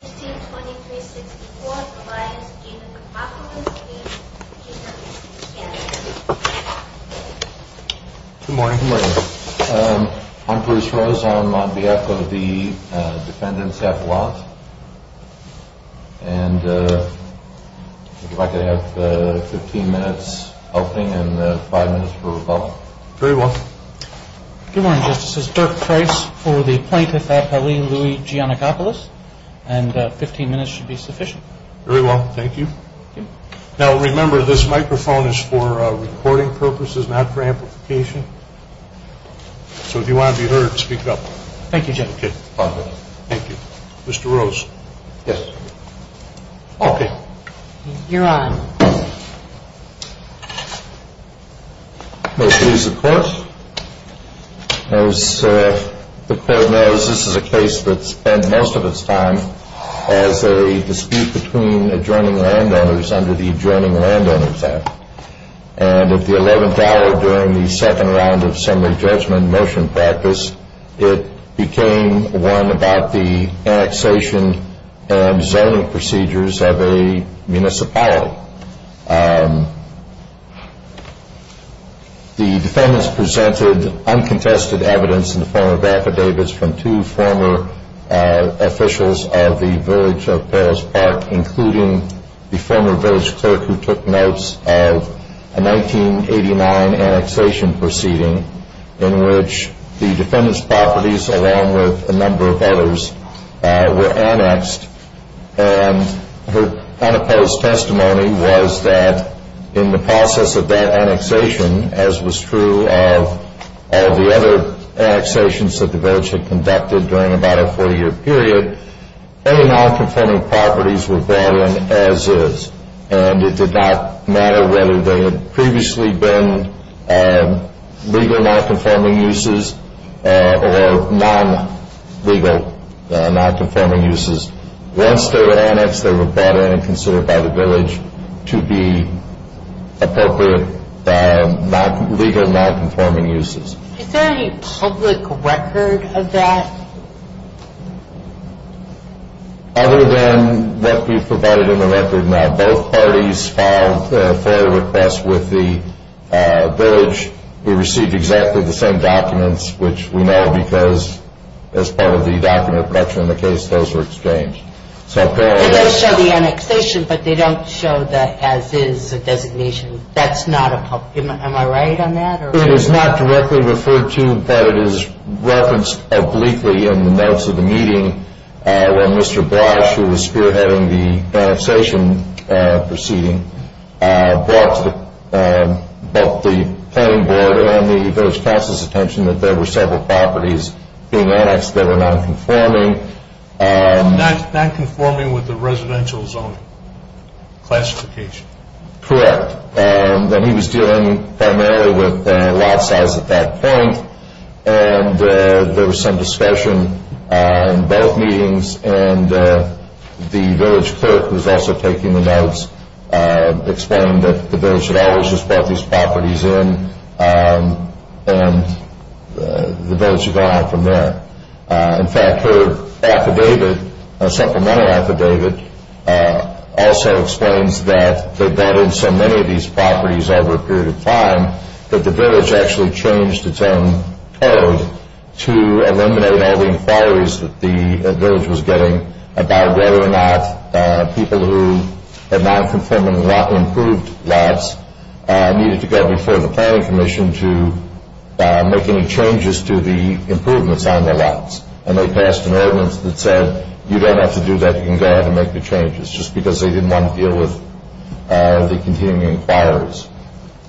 Good morning. I'm Bruce Rose. I'm on behalf of the defendants at law. And I'd like to have 15 minutes opening and five minutes for rebuttal. Very well. Good morning, Justices. Dirk Price for the plaintiff at L.E. Giannakopulos. And 15 minutes should be sufficient. Very well. Thank you. Now remember this microphone is for recording purposes, not for amplification. So if you want to be heard, speak up. Thank you, Judge. Thank you. Mr. Rose. Yes. Okay. You're on. Thank you. The defendants presented uncontested evidence in the form of affidavits from two former officials of the Village of Perils Park, including the former village clerk who took notes of a 1989 annexation proceeding in which the defendants' properties, along with a number of others, were annexed. And her unopposed testimony was that in the process of that annexation, as was true of all the other annexations that the village had conducted during about a 40-year period, all the non-conforming properties were brought in as is. And it did not matter whether they had previously been legal non-conforming uses or non-legal non-conforming uses. Once they were annexed, they were brought in and considered by the village to be appropriate legal non-conforming uses. Is there any public record of that? Other than what we've provided in the record now, both parties filed a FOIA request with the village. We received exactly the same documents, which we know because as part of the document production in the case, those were exchanged. They show the annexation, but they don't show the as-is designation. That's not a public record. Am I right on that? It is not directly referred to, but it is referenced obliquely in the notes of the meeting when Mr. Brosh, who was spearheading the annexation proceeding, brought to both the planning board and the village council's attention that there were several properties being annexed that were non-conforming. Non-conforming with the residential zoning classification. Correct. He was dealing primarily with lot size at that point, and there was some discussion in both meetings. The village clerk, who was also taking the notes, explained that the village had always just brought these properties in, and the village had gone on from there. In fact, her affidavit, a supplemental affidavit, also explains that they brought in so many of these properties over a period of time, that the village actually changed its own code to eliminate all the inquiries that the village was getting about whether or not people who had non-conforming or improved lots needed to go before the planning commission to make any changes to the improvements on the lots, and they passed an ordinance that said you don't have to do that, you can go ahead and make the changes, just because they didn't want to deal with the continuing inquiries.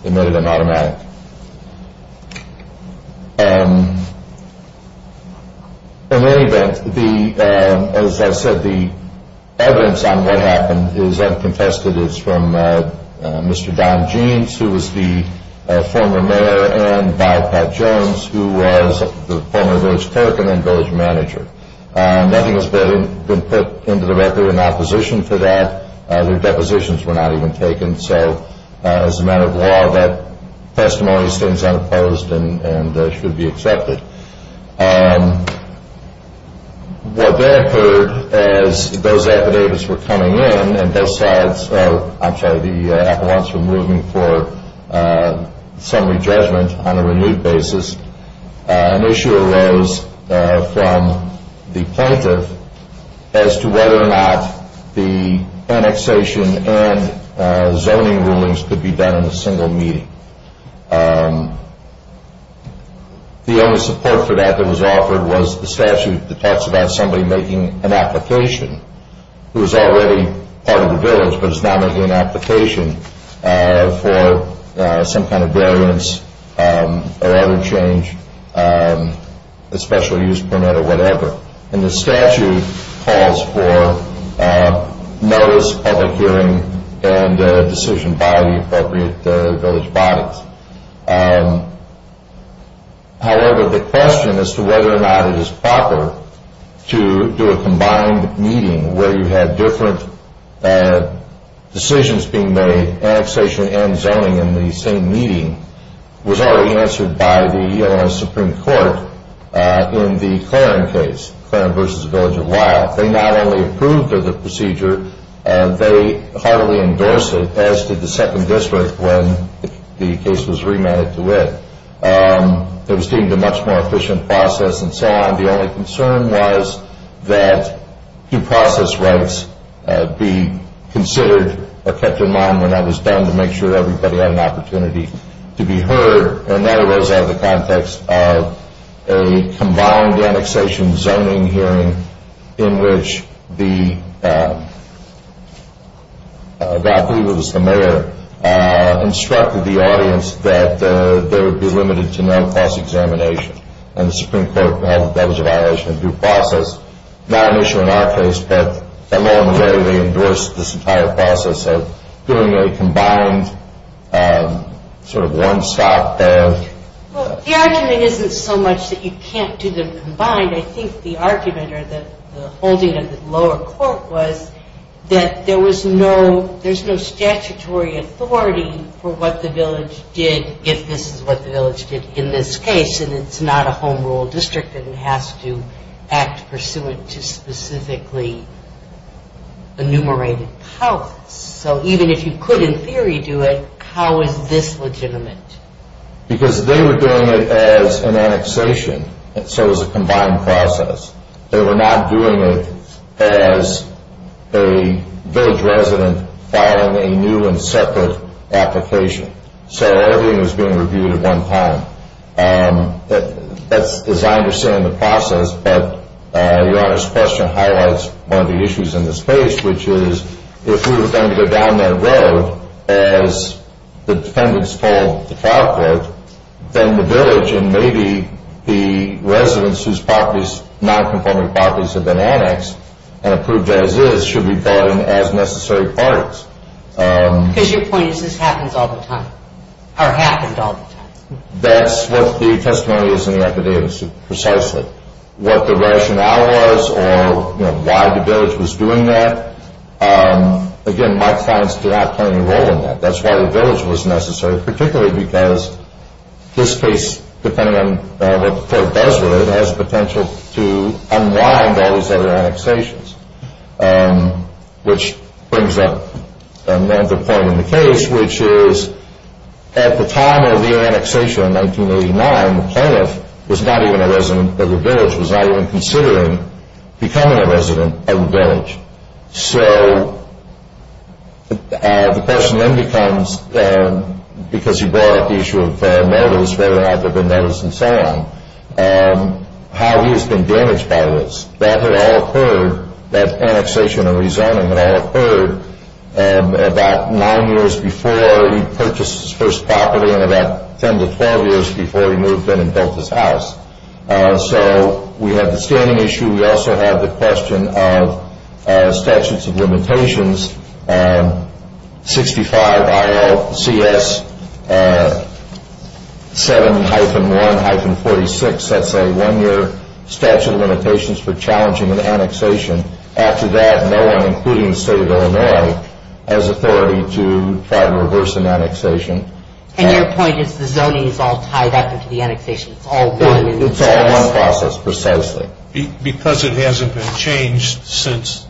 They made it an automatic. In any event, as I said, the evidence on what happened is unconfessed. It's from Mr. Don Jeans, who was the former mayor, and Bob Pat Jones, who was the former village clerk and then village manager. Nothing has been put into the record in opposition to that. Their depositions were not even taken. So, as a matter of law, that testimony stands unopposed and should be accepted. What then occurred as those affidavits were coming in, and those slides, I'm sorry, the appellants were moving for summary judgment on a renewed basis, an issue arose from the plaintiff as to whether or not the annexation and zoning rulings could be done in a single meeting. The only support for that that was offered was the statute that talks about somebody making an application, who is already part of the village, but is now making an application for some kind of variance or other change, a special use permit or whatever. And the statute calls for notice, public hearing, and a decision by the appropriate village bodies. However, the question as to whether or not it is proper to do a combined meeting where you have different decisions being made, annexation and zoning in the same meeting, was already answered by the Illinois Supreme Court in the Claren case, Claren v. Village of Weill. They not only approved of the procedure, they heartily endorsed it, as did the Second District when the case was remanded to it. It was deemed a much more efficient process and so on. The only concern was that due process rights be considered or kept in mind when that was done to make sure everybody had an opportunity to be heard. And that arose out of the context of a combined annexation zoning hearing in which the, I believe it was the mayor, instructed the audience that there would be limited to non-false examination. And the Supreme Court held that that was a violation of due process, not an issue in our case, that alone where they endorsed this entire process of doing a combined sort of one stop there. Well, the argument isn't so much that you can't do them combined. I think the argument or the holding of the lower court was that there was no, there's no statutory authority for what the village did if this is what the village did in this case. And it's not a home rule district and it has to act pursuant to specifically enumerated powers. So even if you could in theory do it, how is this legitimate? Because they were doing it as an annexation and so was a combined process. They were not doing it as a village resident filing a new and separate application. So everything was being reviewed at one time. That's as I understand the process, but Your Honor's question highlights one of the issues in this case, which is if we were going to go down that road as the defendants called the trial court, then the village and maybe the residents whose properties, non-conforming properties, have been annexed and approved as is should be brought in as necessary parties. Because your point is this happens all the time or happened all the time. That's what the testimony is in the affidavits precisely. What the rationale was or why the village was doing that, again, my clients do not play any role in that. That's why the village was necessary, particularly because this case, depending on what the court does with it, has the potential to unwind all these other annexations, which brings up another point in the case, which is at the time of the annexation in 1989, the plaintiff was not even a resident of the village, was not even considering becoming a resident of the village. So the question then becomes, because you brought up the issue of mortals, whether or not there have been mortals and so on, how he has been damaged by this. That had all occurred, that annexation and rezoning had all occurred about nine years before he purchased his first property and about 10 to 12 years before he moved in and built his house. So we have the standing issue. We also have the question of statutes of limitations, 65ILCS7-1-46. That's a one-year statute of limitations for challenging an annexation. After that, no one, including the state of Illinois, has authority to try to reverse an annexation. And your point is the zoning is all tied up into the annexation. It's all one process. It's all one process, precisely. Because it hasn't been changed since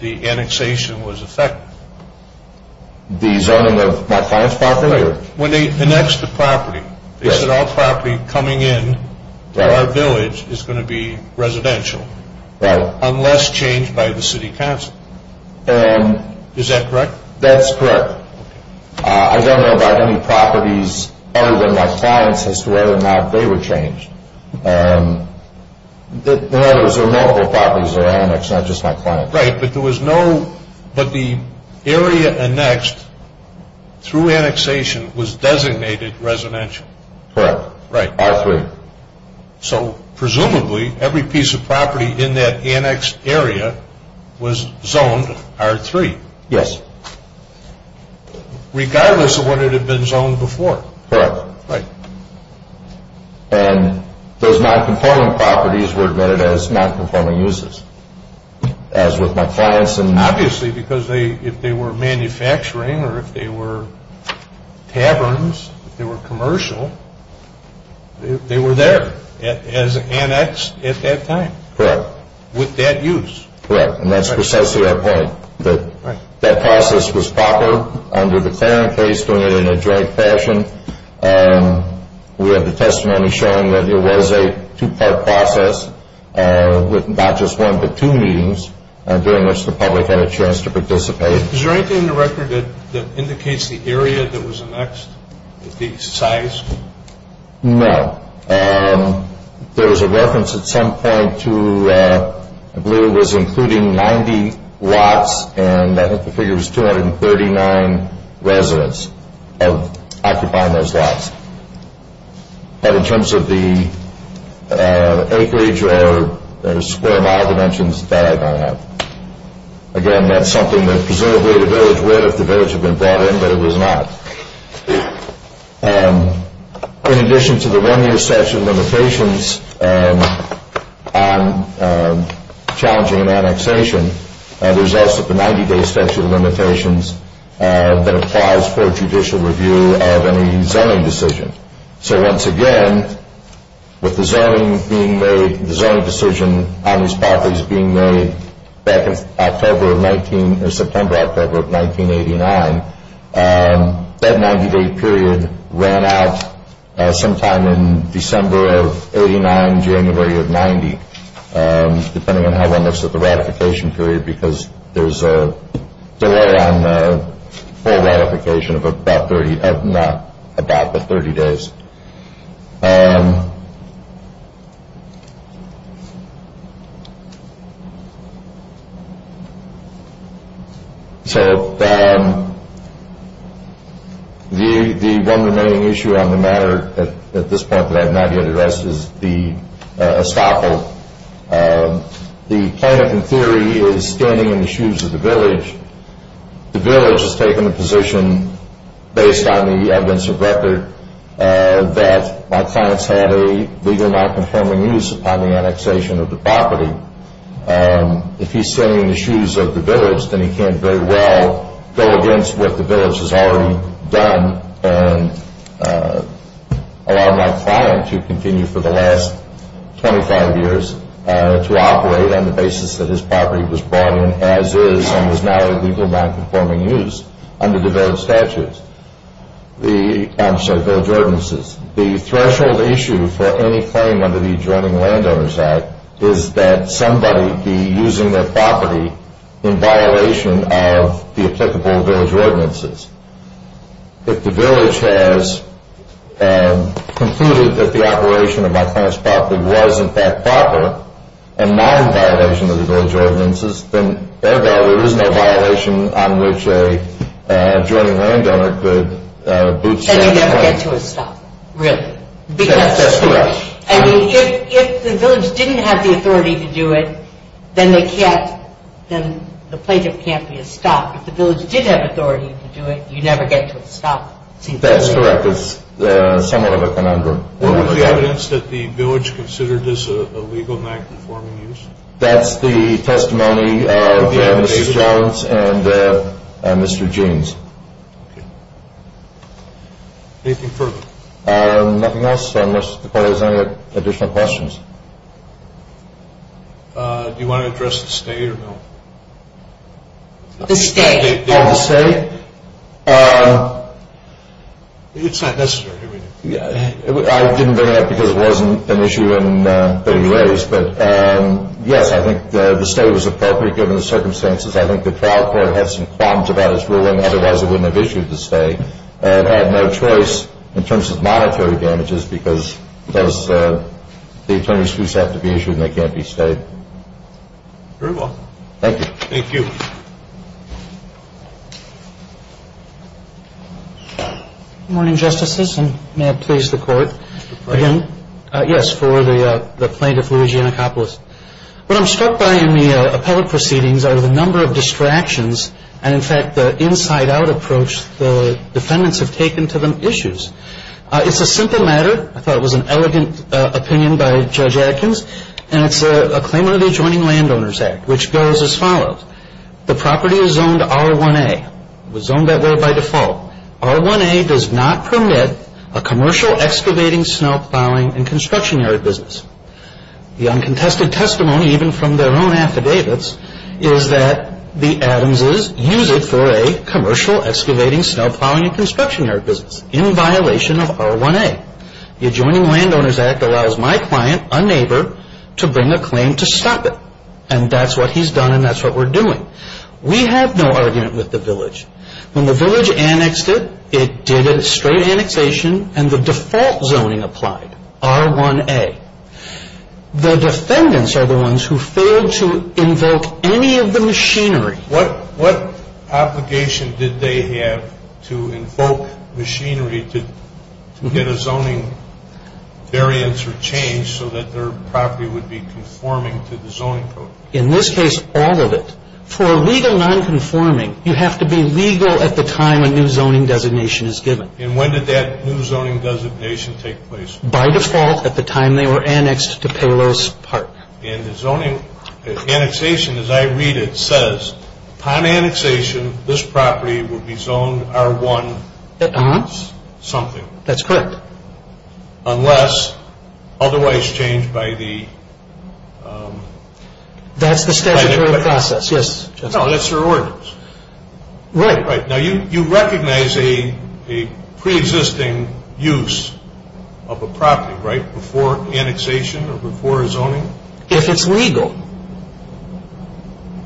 the annexation was effective. The zoning of my client's property? When they annexed the property, they said all property coming in to our village is going to be residential. Right. Unless changed by the city council. Is that correct? That's correct. I don't know about any properties other than my client's as to whether or not they were changed. In other words, there were multiple properties that were annexed, not just my client's. Right, but the area annexed through annexation was designated residential. Correct. R3. So presumably, every piece of property in that annexed area was zoned R3. Yes. Regardless of whether it had been zoned before. Correct. Right. And those non-conforming properties were admitted as non-conforming uses. As with my client's. Obviously, because if they were manufacturing or if they were taverns, if they were commercial, they were there as annexed at that time. Correct. With that use. Correct, and that's precisely our point. That process was proper under the Clarence case, doing it in a joint fashion. We have the testimony showing that it was a two-part process with not just one but two meetings, during which the public had a chance to participate. Is there anything in the record that indicates the area that was annexed, the size? No. There was a reference at some point to, I believe it was including 90 lots, and I think the figure was 239 residents occupying those lots. But in terms of the acreage or square mile dimensions, that I don't have. Again, that's something that presumably the village would if the village had been brought in, but it was not. In addition to the one-year statute of limitations on challenging an annexation, there's also the 90-day statute of limitations that applies for judicial review of any zoning decision. So once again, with the zoning being made, the zoning decision on these properties being made back in September, October of 1989, that 90-day period ran out sometime in December of 89, January of 90, depending on how one looks at the ratification period, because there's a delay on the full ratification of not about the 30 days. So the one remaining issue on the matter at this point that I have not yet addressed is the estoppel. The plaintiff, in theory, is standing in the shoes of the village. The village has taken the position, based on the evidence of record, that my client's had a legal, non-conforming use upon the annexation of the property. If he's standing in the shoes of the village, then he can't very well go against what the village has already done and allow my client to continue for the last 25 years to operate on the basis that his property was brought in as is and is now a legal, non-conforming use under the village ordinances. The threshold issue for any claim under the Adjoining Landowners Act is that somebody be using their property in violation of the applicable village ordinances. If the village has concluded that the operation of my client's property was, in fact, proper and not in violation of the village ordinances, then thereby there is no violation on which an adjoining landowner could bootstrap the plaintiff. Then you never get to a stop, really. That's correct. I mean, if the village didn't have the authority to do it, then the plaintiff can't be a stop. If the village did have authority to do it, you never get to a stop. That's correct. It's somewhat of a conundrum. What was the evidence that the village considered this a legal, non-conforming use? That's the testimony of Mr. Jones and Mr. James. Okay. Anything further? Nothing else, unless the court has any additional questions. Do you want to address the state or no? The state. Oh, the state? It's not necessary. I didn't bring it up because it wasn't an issue that he raised, but, yes, I think the state was appropriate given the circumstances. I think the trial court had some qualms about its ruling, otherwise it wouldn't have issued the state and had no choice in terms of monetary damages because the attorney's fees have to be issued and they can't be stayed. Very well. Thank you. Thank you. Good morning, Justices, and may it please the Court. Yes, for the plaintiff, Luigi Anacopulos. What I'm struck by in the appellate proceedings are the number of distractions and, in fact, the inside-out approach the defendants have taken to the issues. It's a simple matter. I thought it was an elegant opinion by Judge Adkins, and it's a claim under the Adjoining Landowners Act, which goes as follows. The property is zoned R1A. It was zoned that way by default. R1A does not permit a commercial excavating, snow plowing, and construction area business. The uncontested testimony, even from their own affidavits, is that the Adamses use it for a commercial excavating, snow plowing, and construction area business in violation of R1A. The Adjoining Landowners Act allows my client, a neighbor, to bring a claim to stop it. And that's what he's done, and that's what we're doing. We have no argument with the village. When the village annexed it, it did a straight annexation, and the default zoning applied, R1A. The defendants are the ones who failed to invoke any of the machinery. What obligation did they have to invoke machinery to get a zoning variance or change so that their property would be conforming to the zoning code? In this case, all of it. For a legal nonconforming, you have to be legal at the time a new zoning designation is given. And when did that new zoning designation take place? By default, at the time they were annexed to Palos Park. And the zoning annexation, as I read it, says, upon annexation, this property will be zoned R1 something. That's correct. Unless otherwise changed by the... That's the statutory process, yes. No, that's their ordinance. Right. Now, you recognize a preexisting use of a property, right, before annexation or before zoning? If it's legal.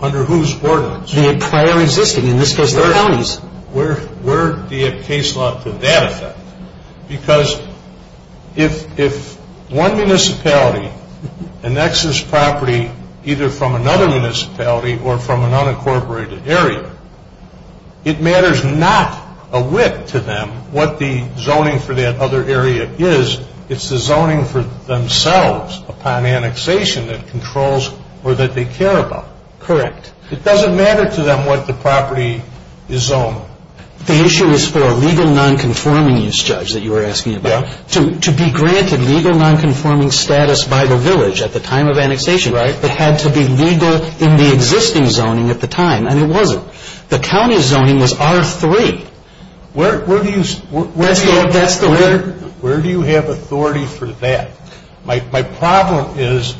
Under whose ordinance? The prior existing. In this case, the counties. Where do you have case law to that effect? Because if one municipality annexes property either from another municipality or from an unincorporated area, it matters not a whit to them what the zoning for that other area is. It's the zoning for themselves upon annexation that controls or that they care about. Correct. It doesn't matter to them what the property is zoned. The issue is for a legal nonconforming use, Judge, that you were asking about, to be granted legal nonconforming status by the village at the time of annexation. Right. It had to be legal in the existing zoning at the time, and it wasn't. The county zoning was R3. Where do you have authority for that? My problem is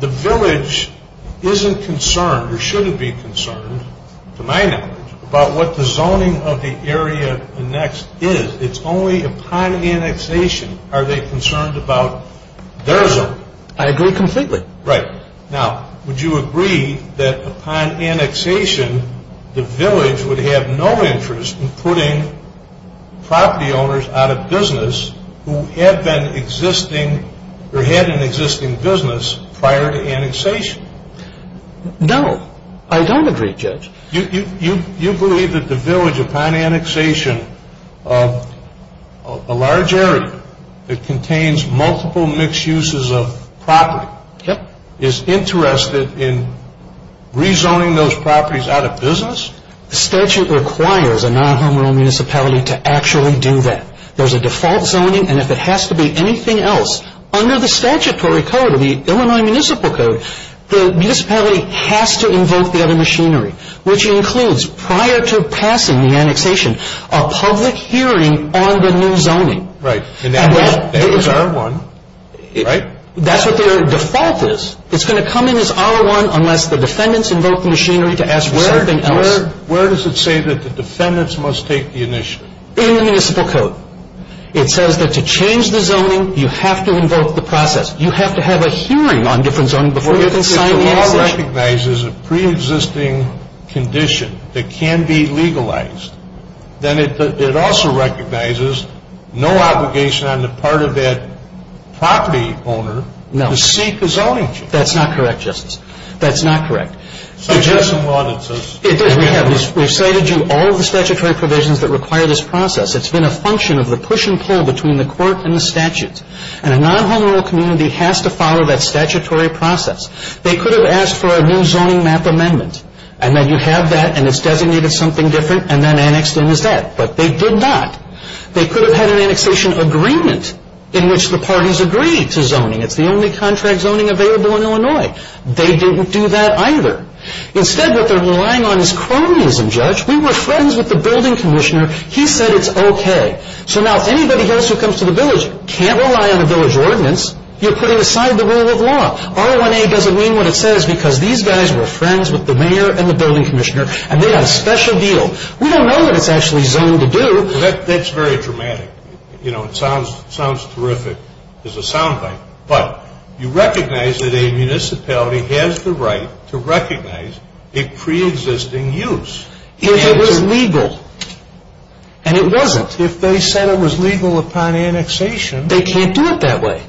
the village isn't concerned or shouldn't be concerned, to my knowledge, about what the zoning of the area annexed is. It's only upon annexation are they concerned about their zoning. I agree completely. Right. Now, would you agree that upon annexation, the village would have no interest in putting property owners out of business who had an existing business prior to annexation? No, I don't agree, Judge. You believe that the village, upon annexation, of a large area that contains multiple mixed uses of property, is interested in rezoning those properties out of business? The statute requires a non-home-run municipality to actually do that. There's a default zoning, and if it has to be anything else, under the statutory code, the Illinois Municipal Code, the municipality has to invoke the other machinery, which includes, prior to passing the annexation, a public hearing on the new zoning. Right. And that was R1, right? That's what their default is. It's going to come in as R1 unless the defendants invoke the machinery to ask for something else. Where does it say that the defendants must take the initiative? In the municipal code. It says that to change the zoning, you have to invoke the process. You have to have a hearing on different zoning before you can sign the annexation. If the law recognizes a pre-existing condition that can be legalized, then it also recognizes no obligation on the part of that property owner to seek a zoning change. That's not correct, Justice. That's not correct. Suggest some audits. We have. We've cited you all the statutory provisions that require this process. It's been a function of the push and pull between the court and the statutes, and a non-home-run community has to follow that statutory process. They could have asked for a new zoning map amendment, and then you have that, and it's designated something different, and then annexed in as that. But they did not. They could have had an annexation agreement in which the parties agreed to zoning. It's the only contract zoning available in Illinois. They didn't do that either. Instead, what they're relying on is cronyism, Judge. We were friends with the building commissioner. He said it's okay. So now if anybody else who comes to the village can't rely on a village ordinance, you're putting aside the rule of law. RONA doesn't mean what it says because these guys were friends with the mayor and the building commissioner, and they had a special deal. We don't know what it's actually zoned to do. That's very dramatic. You know, it sounds terrific as a soundbite, but you recognize that a municipality has the right to recognize a preexisting use. If it was legal, and it wasn't. If they said it was legal upon annexation. They can't do it that way.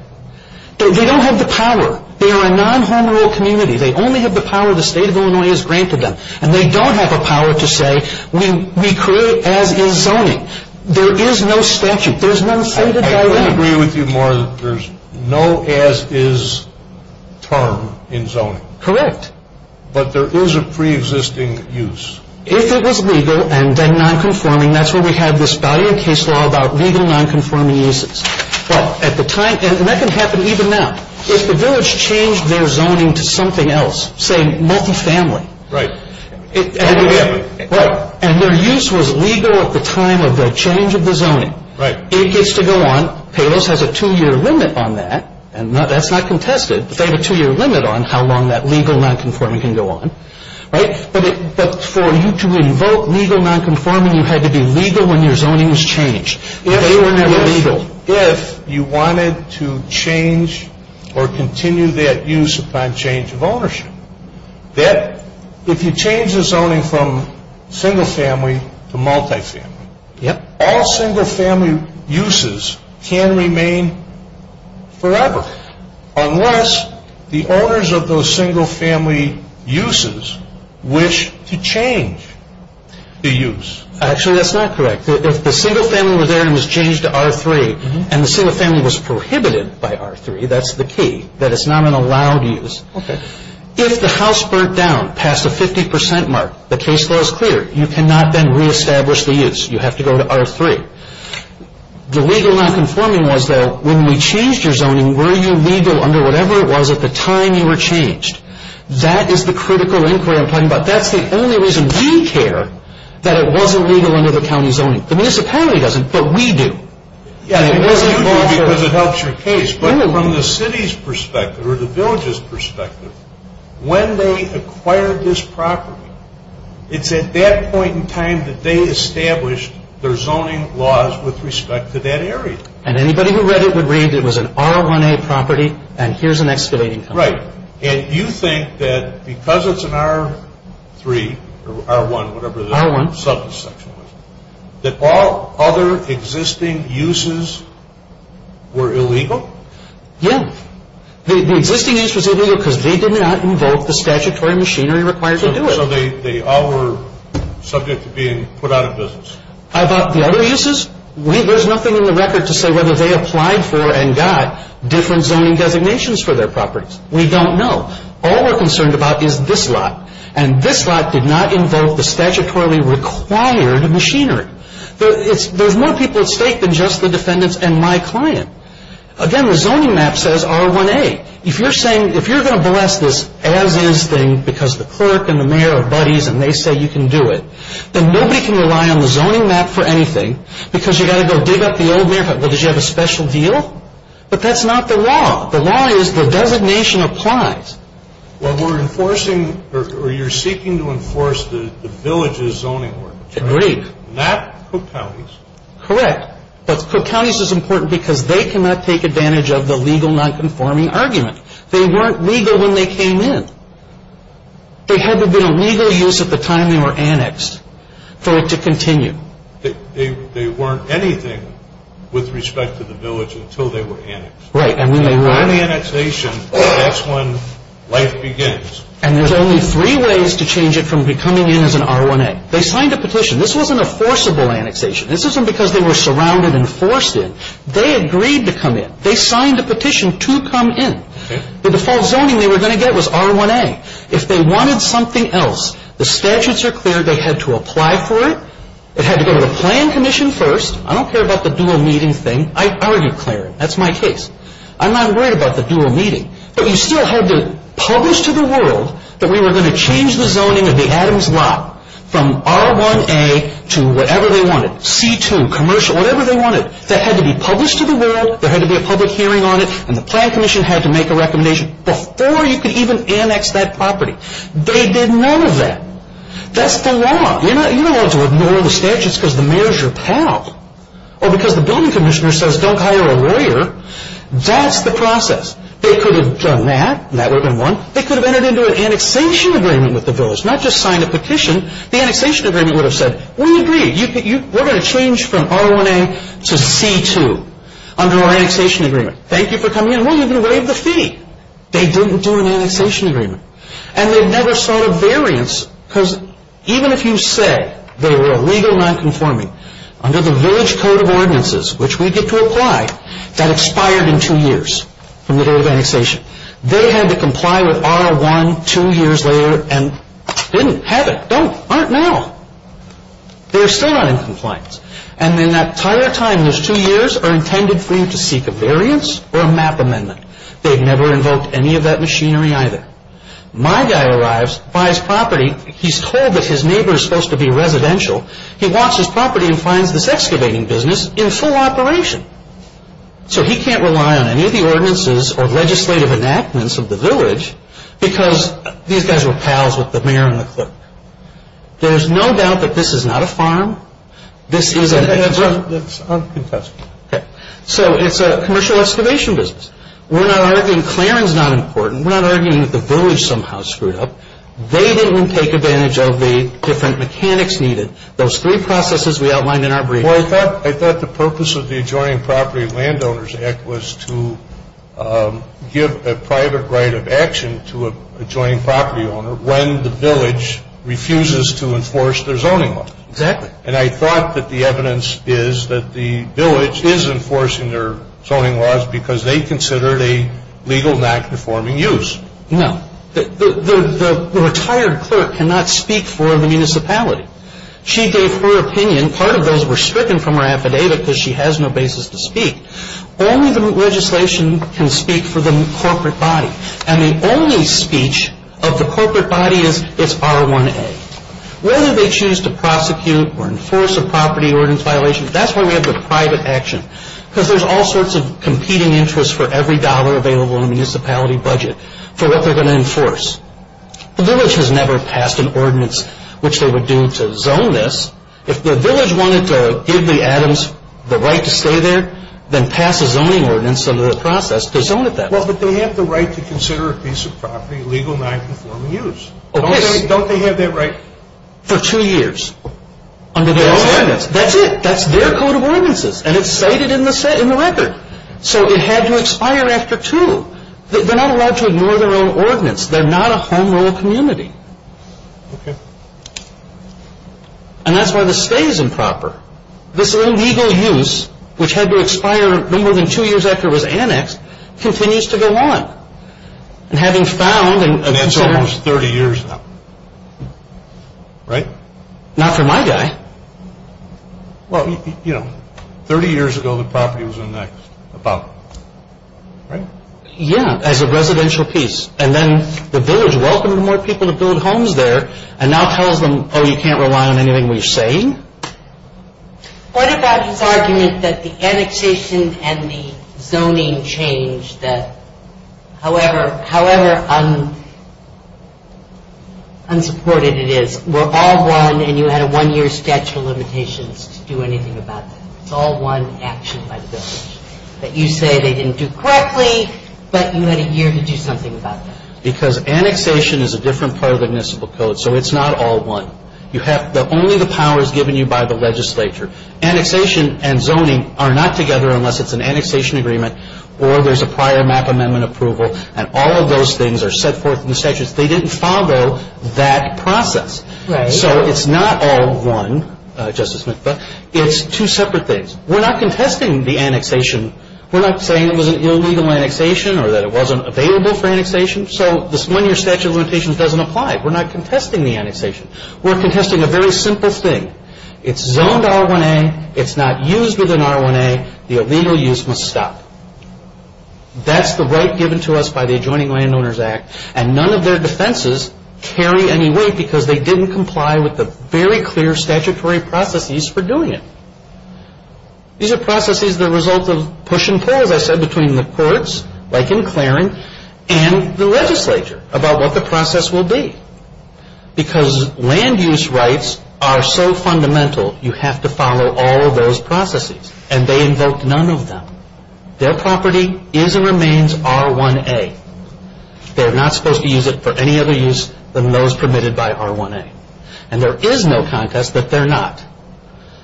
They don't have the power. They are a non-home rule community. They only have the power the state of Illinois has granted them, and they don't have the power to say we create as is zoning. There is no statute. There's no stated dilemma. I would agree with you more that there's no as is term in zoning. Correct. But there is a preexisting use. If it was legal and then nonconforming, that's where we have this value in case law about legal nonconforming uses. Well, at the time, and that can happen even now. If the village changed their zoning to something else, say multifamily. Right. And their use was legal at the time of the change of the zoning. Right. It gets to go on. Palos has a two-year limit on that, and that's not contested. They have a two-year limit on how long that legal nonconforming can go on. Right? But for you to invoke legal nonconforming, you had to be legal when your zoning was changed. They were never legal. If you wanted to change or continue that use upon change of ownership, if you change the zoning from single family to multifamily, all single family uses can remain forever, unless the owners of those single family uses wish to change the use. Actually, that's not correct. If the single family was there and it was changed to R3, and the single family was prohibited by R3, that's the key, that it's not an allowed use. Okay. If the house burnt down past the 50 percent mark, the case law is clear. You cannot then reestablish the use. You have to go to R3. The legal nonconforming was that when we changed your zoning, were you legal under whatever it was at the time you were changed? That is the critical inquiry I'm talking about. But that's the only reason we care that it wasn't legal under the county zoning. The municipality doesn't, but we do. You do because it helps your case. But from the city's perspective or the village's perspective, when they acquired this property, it's at that point in time that they established their zoning laws with respect to that area. And anybody who read it would read it was an R1A property, and here's an excavating company. Right. And you think that because it's an R3 or R1, whatever the subsection was, that all other existing uses were illegal? Yeah. The existing use was illegal because they did not invoke the statutory machinery required to do it. So they all were subject to being put out of business. About the other uses, there's nothing in the record to say whether they applied for and got different zoning designations for their properties. We don't know. All we're concerned about is this lot, and this lot did not invoke the statutorily required machinery. There's more people at stake than just the defendants and my client. Again, the zoning map says R1A. If you're going to bless this as-is thing because the clerk and the mayor are buddies and they say you can do it, then nobody can rely on the zoning map for anything because you've got to go dig up the old map. Well, did you have a special deal? But that's not the law. The law is the designation applies. Well, we're enforcing or you're seeking to enforce the village's zoning work. Agreed. Not Cook County's. Correct. But Cook County's is important because they cannot take advantage of the legal nonconforming argument. They weren't legal when they came in. There hadn't been a legal use at the time they were annexed for it to continue. They weren't anything with respect to the village until they were annexed. Right. And when they were annexation, that's when life begins. And there's only three ways to change it from coming in as an R1A. They signed a petition. This wasn't a forcible annexation. This isn't because they were surrounded and forced in. They agreed to come in. They signed a petition to come in. The default zoning they were going to get was R1A. If they wanted something else, the statutes are clear they had to apply for it. It had to go to the plan commission first. I don't care about the dual meeting thing. I argued clearly. That's my case. I'm not worried about the dual meeting. But you still had to publish to the world that we were going to change the zoning of the Adams lot from R1A to whatever they wanted, C2, commercial, whatever they wanted. That had to be published to the world. There had to be a public hearing on it. And the plan commission had to make a recommendation before you could even annex that property. They did none of that. That's the law. You don't have to ignore the statutes because the mayor is your pal. Or because the building commissioner says don't hire a lawyer. That's the process. They could have done that. That would have been one. They could have entered into an annexation agreement with the village, not just signed a petition. The annexation agreement would have said, we agree. We're going to change from R1A to C2 under our annexation agreement. Thank you for coming in. We'll even waive the fee. They didn't do an annexation agreement. And they never sought a variance because even if you say they were illegal nonconforming under the village code of ordinances, which we get to apply, that expired in two years from the day of annexation. They had to comply with R1 two years later and didn't have it. Don't. Aren't now. They're still not in compliance. And in that entire time, those two years are intended for you to seek a variance or a map amendment. They've never invoked any of that machinery either. My guy arrives, buys property. He's told that his neighbor is supposed to be residential. He wants his property and finds this excavating business in full operation. So he can't rely on any of the ordinances or legislative enactments of the village because these guys were pals with the mayor and the clerk. There's no doubt that this is not a farm. This is a. That's uncontested. Okay. So it's a commercial excavation business. We're not arguing clearing is not important. We're not arguing that the village somehow screwed up. They didn't take advantage of the different mechanics needed. Those three processes we outlined in our brief. I thought the purpose of the adjoining property landowners act was to give a private right of action to a joint property owner when the village refuses to enforce their zoning law. Exactly. And I thought that the evidence is that the village is enforcing their zoning laws because they considered a legal knack to forming use. No, the retired clerk cannot speak for the municipality. She gave her opinion. Part of those were stricken from her affidavit because she has no basis to speak. Only the legislation can speak for the corporate body. And the only speech of the corporate body is it's R1A. Whether they choose to prosecute or enforce a property ordinance violation, that's why we have the private action. Because there's all sorts of competing interests for every dollar available in a municipality budget for what they're going to enforce. The village has never passed an ordinance which they would do to zone this. If the village wanted to give the Adams the right to stay there, then pass a zoning ordinance under the process to zone it that way. Well, but they have the right to consider a piece of property illegal, nonconforming use. Oh, yes. Don't they have that right? For two years. Under their own ordinance. That's it. That's their code of ordinances. And it's stated in the record. So it had to expire after two. They're not allowed to ignore their own ordinance. They're not a home rule community. Okay. And that's why the stay is improper. This illegal use, which had to expire no more than two years after it was annexed, continues to go on. And having found and considered. And that's almost 30 years now. Right? Not for my guy. Well, you know, 30 years ago the property was annexed. About. Right? Yeah. As a residential piece. And then the village welcomed more people to build homes there. And now tells them, oh, you can't rely on anything we're saying? What about his argument that the annexation and the zoning change, that however unsupported it is, we're all one and you had a one-year statute of limitations to do anything about that. It's all one action by the village. That you say they didn't do correctly, but you had a year to do something about that. Because annexation is a different part of the municipal code, so it's not all one. You have only the powers given you by the legislature. Annexation and zoning are not together unless it's an annexation agreement or there's a prior map amendment approval, and all of those things are set forth in the statutes. They didn't follow that process. Right. So it's not all one, Justice McBeth. It's two separate things. We're not contesting the annexation. We're not saying it was an illegal annexation or that it wasn't available for annexation. So this one-year statute of limitations doesn't apply. We're not contesting the annexation. We're contesting a very simple thing. It's zoned R1A. It's not used within R1A. The illegal use must stop. That's the right given to us by the Adjoining Landowners Act, and none of their defenses carry any weight because they didn't comply with the very clear statutory processes for doing it. These are processes the result of push and pull, as I said, between the courts, like in Clarin, and the legislature about what the process will be. Because land use rights are so fundamental, you have to follow all of those processes, and they invoked none of them. Their property is and remains R1A. They're not supposed to use it for any other use than those permitted by R1A. And there is no contest that they're not.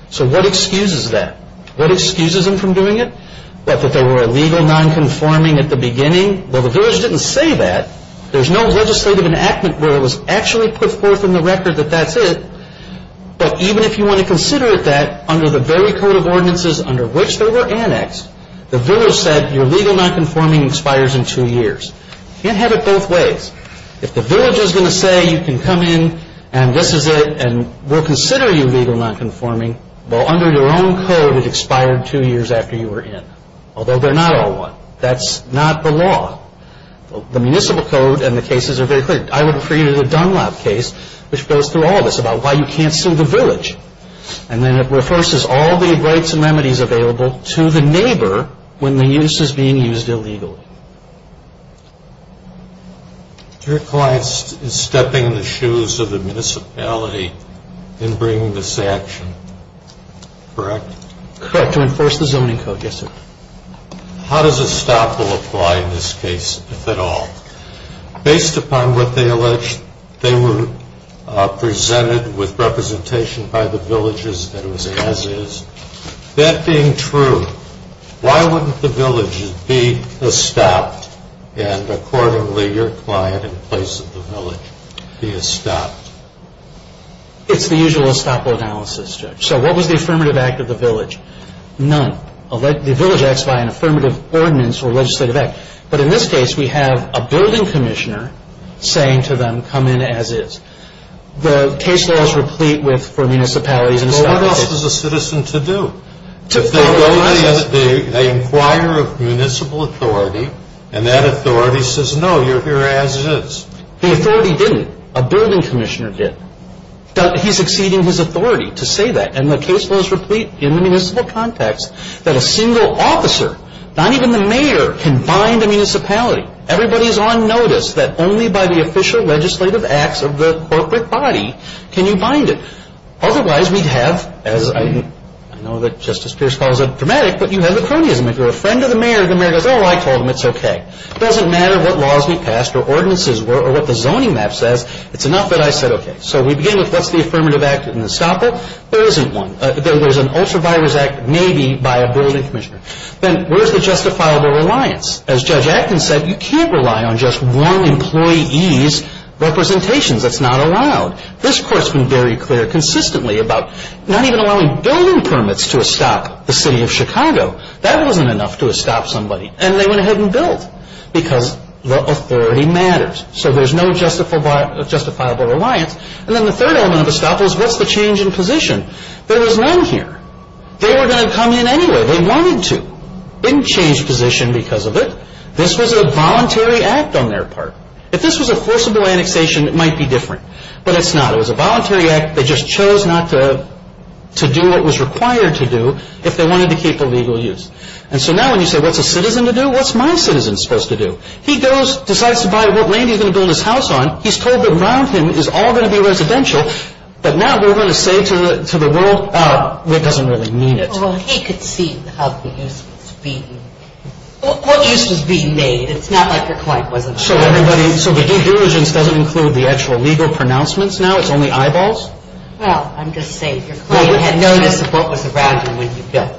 So what excuses that? What excuses them from doing it? That there were illegal nonconforming at the beginning? Well, the village didn't say that. There's no legislative enactment where it was actually put forth in the record that that's it. But even if you want to consider it that, under the very code of ordinances under which there were annexed, the village said your legal nonconforming expires in two years. You can't have it both ways. If the village is going to say you can come in and this is it and we'll consider you legal nonconforming, well, under your own code it expired two years after you were in, although they're not all one. That's not the law. The municipal code and the cases are very clear. I would refer you to the Dunlop case, which goes through all of this about why you can't sue the village. And then it refers all the rights and remedies available to the neighbor when the use is being used illegally. Your client is stepping in the shoes of the municipality in bringing this action, correct? Correct, to enforce the zoning code, yes, sir. How does estoppel apply in this case, if at all? Based upon what they alleged, they were presented with representation by the villages that it was as is. That being true, why wouldn't the village be estopped and accordingly your client in place of the village be estopped? It's the usual estoppel analysis, Judge. So what was the affirmative act of the village? None. The village acts by an affirmative ordinance or legislative act. But in this case, we have a building commissioner saying to them, come in as is. The case law is replete for municipalities and estoppels. What else is a citizen to do? They inquire of municipal authority and that authority says, no, you're here as is. The authority didn't. A building commissioner did. He's exceeding his authority to say that. And the case law is replete in the municipal context that a single officer, not even the mayor, can bind a municipality. Everybody is on notice that only by the official legislative acts of the corporate body can you bind it. Otherwise, we'd have, as I know that Justice Pierce calls it dramatic, but you have the cronyism. If you're a friend of the mayor, the mayor goes, oh, I told him, it's okay. It doesn't matter what laws we passed or ordinances were or what the zoning map says. It's enough that I said, okay. So we begin with what's the affirmative act in estoppel? There isn't one. There's an ultravirus act maybe by a building commissioner. Then where's the justifiable reliance? As Judge Atkins said, you can't rely on just one employee's representations. That's not allowed. This Court's been very clear consistently about not even allowing building permits to estop the city of Chicago. That wasn't enough to estop somebody. And they went ahead and built because the authority matters. So there's no justifiable reliance. And then the third element of estoppel is what's the change in position? There was none here. They were going to come in anyway. They wanted to. They didn't change position because of it. This was a voluntary act on their part. If this was a forcible annexation, it might be different. But it's not. It was a voluntary act. They just chose not to do what was required to do if they wanted to keep the legal use. And so now when you say what's a citizen to do, what's my citizen supposed to do? He goes, decides to buy what lane he's going to build his house on. He's told that around him is all going to be residential. But now we're going to say to the world, oh, that doesn't really mean it. Well, he could see what use was being made. It's not like your client wasn't aware of this. So the due diligence doesn't include the actual legal pronouncements now? It's only eyeballs? Well, I'm just saying your client had noticed what was around him when you built.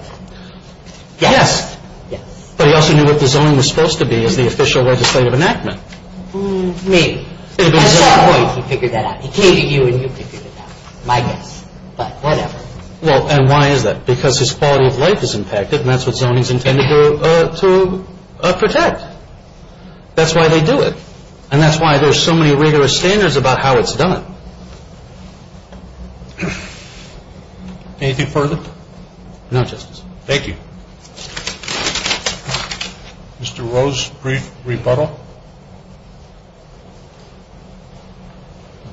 Yes. Yes. But he also knew what the zone was supposed to be as the official legislative enactment. Maybe. At some point he figured that out. He came to you and you figured it out. My guess. But whatever. Well, and why is that? Because his quality of life is impacted and that's what zoning is intended to protect. That's why they do it. And that's why there's so many rigorous standards about how it's done. Anything further? No, Justice. Thank you. Mr. Rose, brief rebuttal?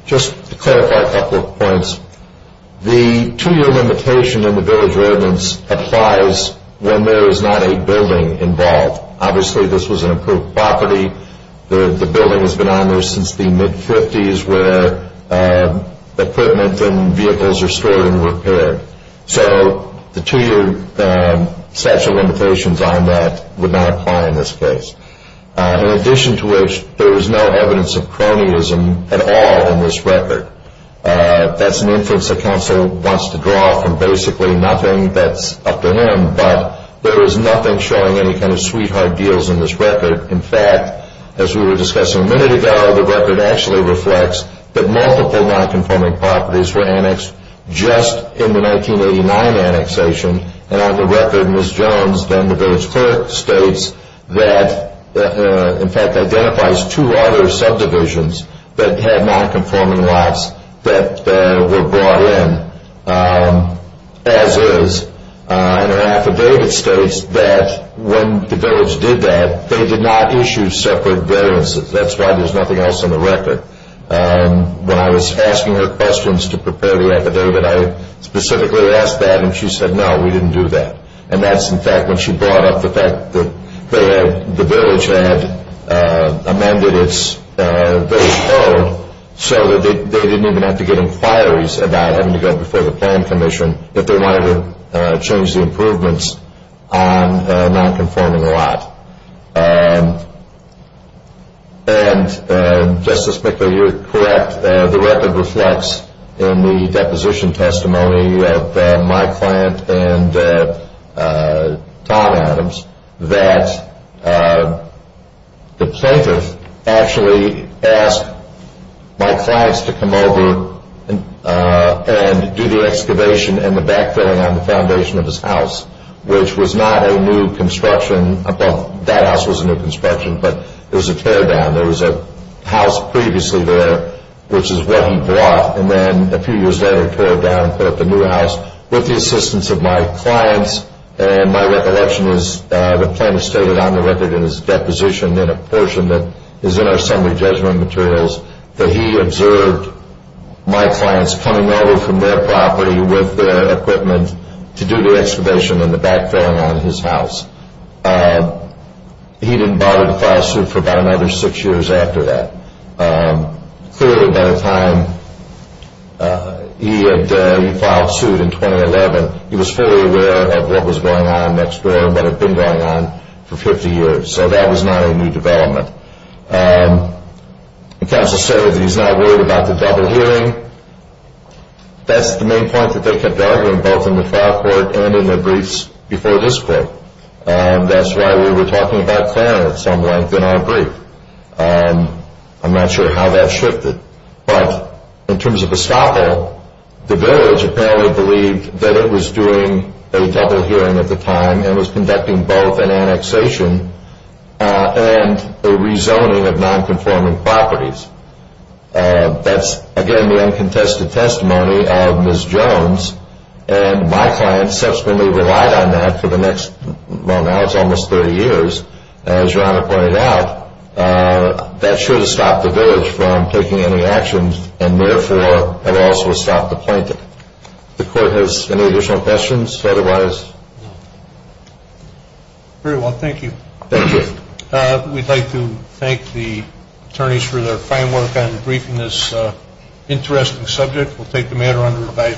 Just to clarify a couple of points. The two-year limitation in the Bill of Relevance applies when there is not a building involved. Obviously this was an approved property. The building has been on there since the mid-'50s where equipment and vehicles are stored and repaired. So the two-year statute of limitations on that would not apply in this case. In addition to which, there is no evidence of cronyism at all in this record. That's an inference that counsel wants to draw from basically nothing that's up to him. But there is nothing showing any kind of sweetheart deals in this record. In fact, as we were discussing a minute ago, the record actually reflects that multiple nonconforming properties were annexed just in the 1989 annexation. And on the record, Ms. Jones, then the village clerk, that in fact identifies two other subdivisions that had nonconforming lots that were brought in, as is in her affidavit states that when the village did that, they did not issue separate variances. That's why there's nothing else on the record. When I was asking her questions to prepare the affidavit, I specifically asked that, and she said, no, we didn't do that. And that's, in fact, when she brought up the fact that the village had amended its code so that they didn't even have to get inquiries about having to go before the plan commission if they wanted to change the improvements on a nonconforming lot. And Justice McGill, you're correct. The record reflects in the deposition testimony of my client and Tom Adams that the plaintiff actually asked my clients to come over and do the excavation and the backfilling on the foundation of his house, which was not a new construction. Well, that house was a new construction, but it was a teardown. There was a house previously there, which is what he bought, and then a few years later he tore it down and put up a new house with the assistance of my clients. And my recollection is the plaintiff stated on the record in his deposition in a portion that is in our summary judgment materials that he observed my clients coming over from their property with their equipment to do the excavation and the backfilling on his house. He didn't bother to file suit for about another six years after that. Clearly by the time he had filed suit in 2011, he was fully aware of what was going on next door and what had been going on for 50 years, so that was not a new development. Counsel stated that he's not worried about the double hearing. That's the main point that they kept arguing both in the trial court and in their briefs before this court. That's why we were talking about clearing at some length in our brief. I'm not sure how that shifted. But in terms of escapo, the village apparently believed that it was doing a double hearing at the time and was conducting both an annexation and a rezoning of nonconforming properties. That's, again, the uncontested testimony of Ms. Jones, and my clients subsequently relied on that for the next, well, now it's almost 30 years. As Your Honor pointed out, that should have stopped the village from taking any action and therefore have also stopped the plaintiff. The court has any additional questions? Otherwise, no. Very well, thank you. Thank you. We'd like to thank the attorneys for their fine work on debriefing this interesting subject. We'll take the matter under review.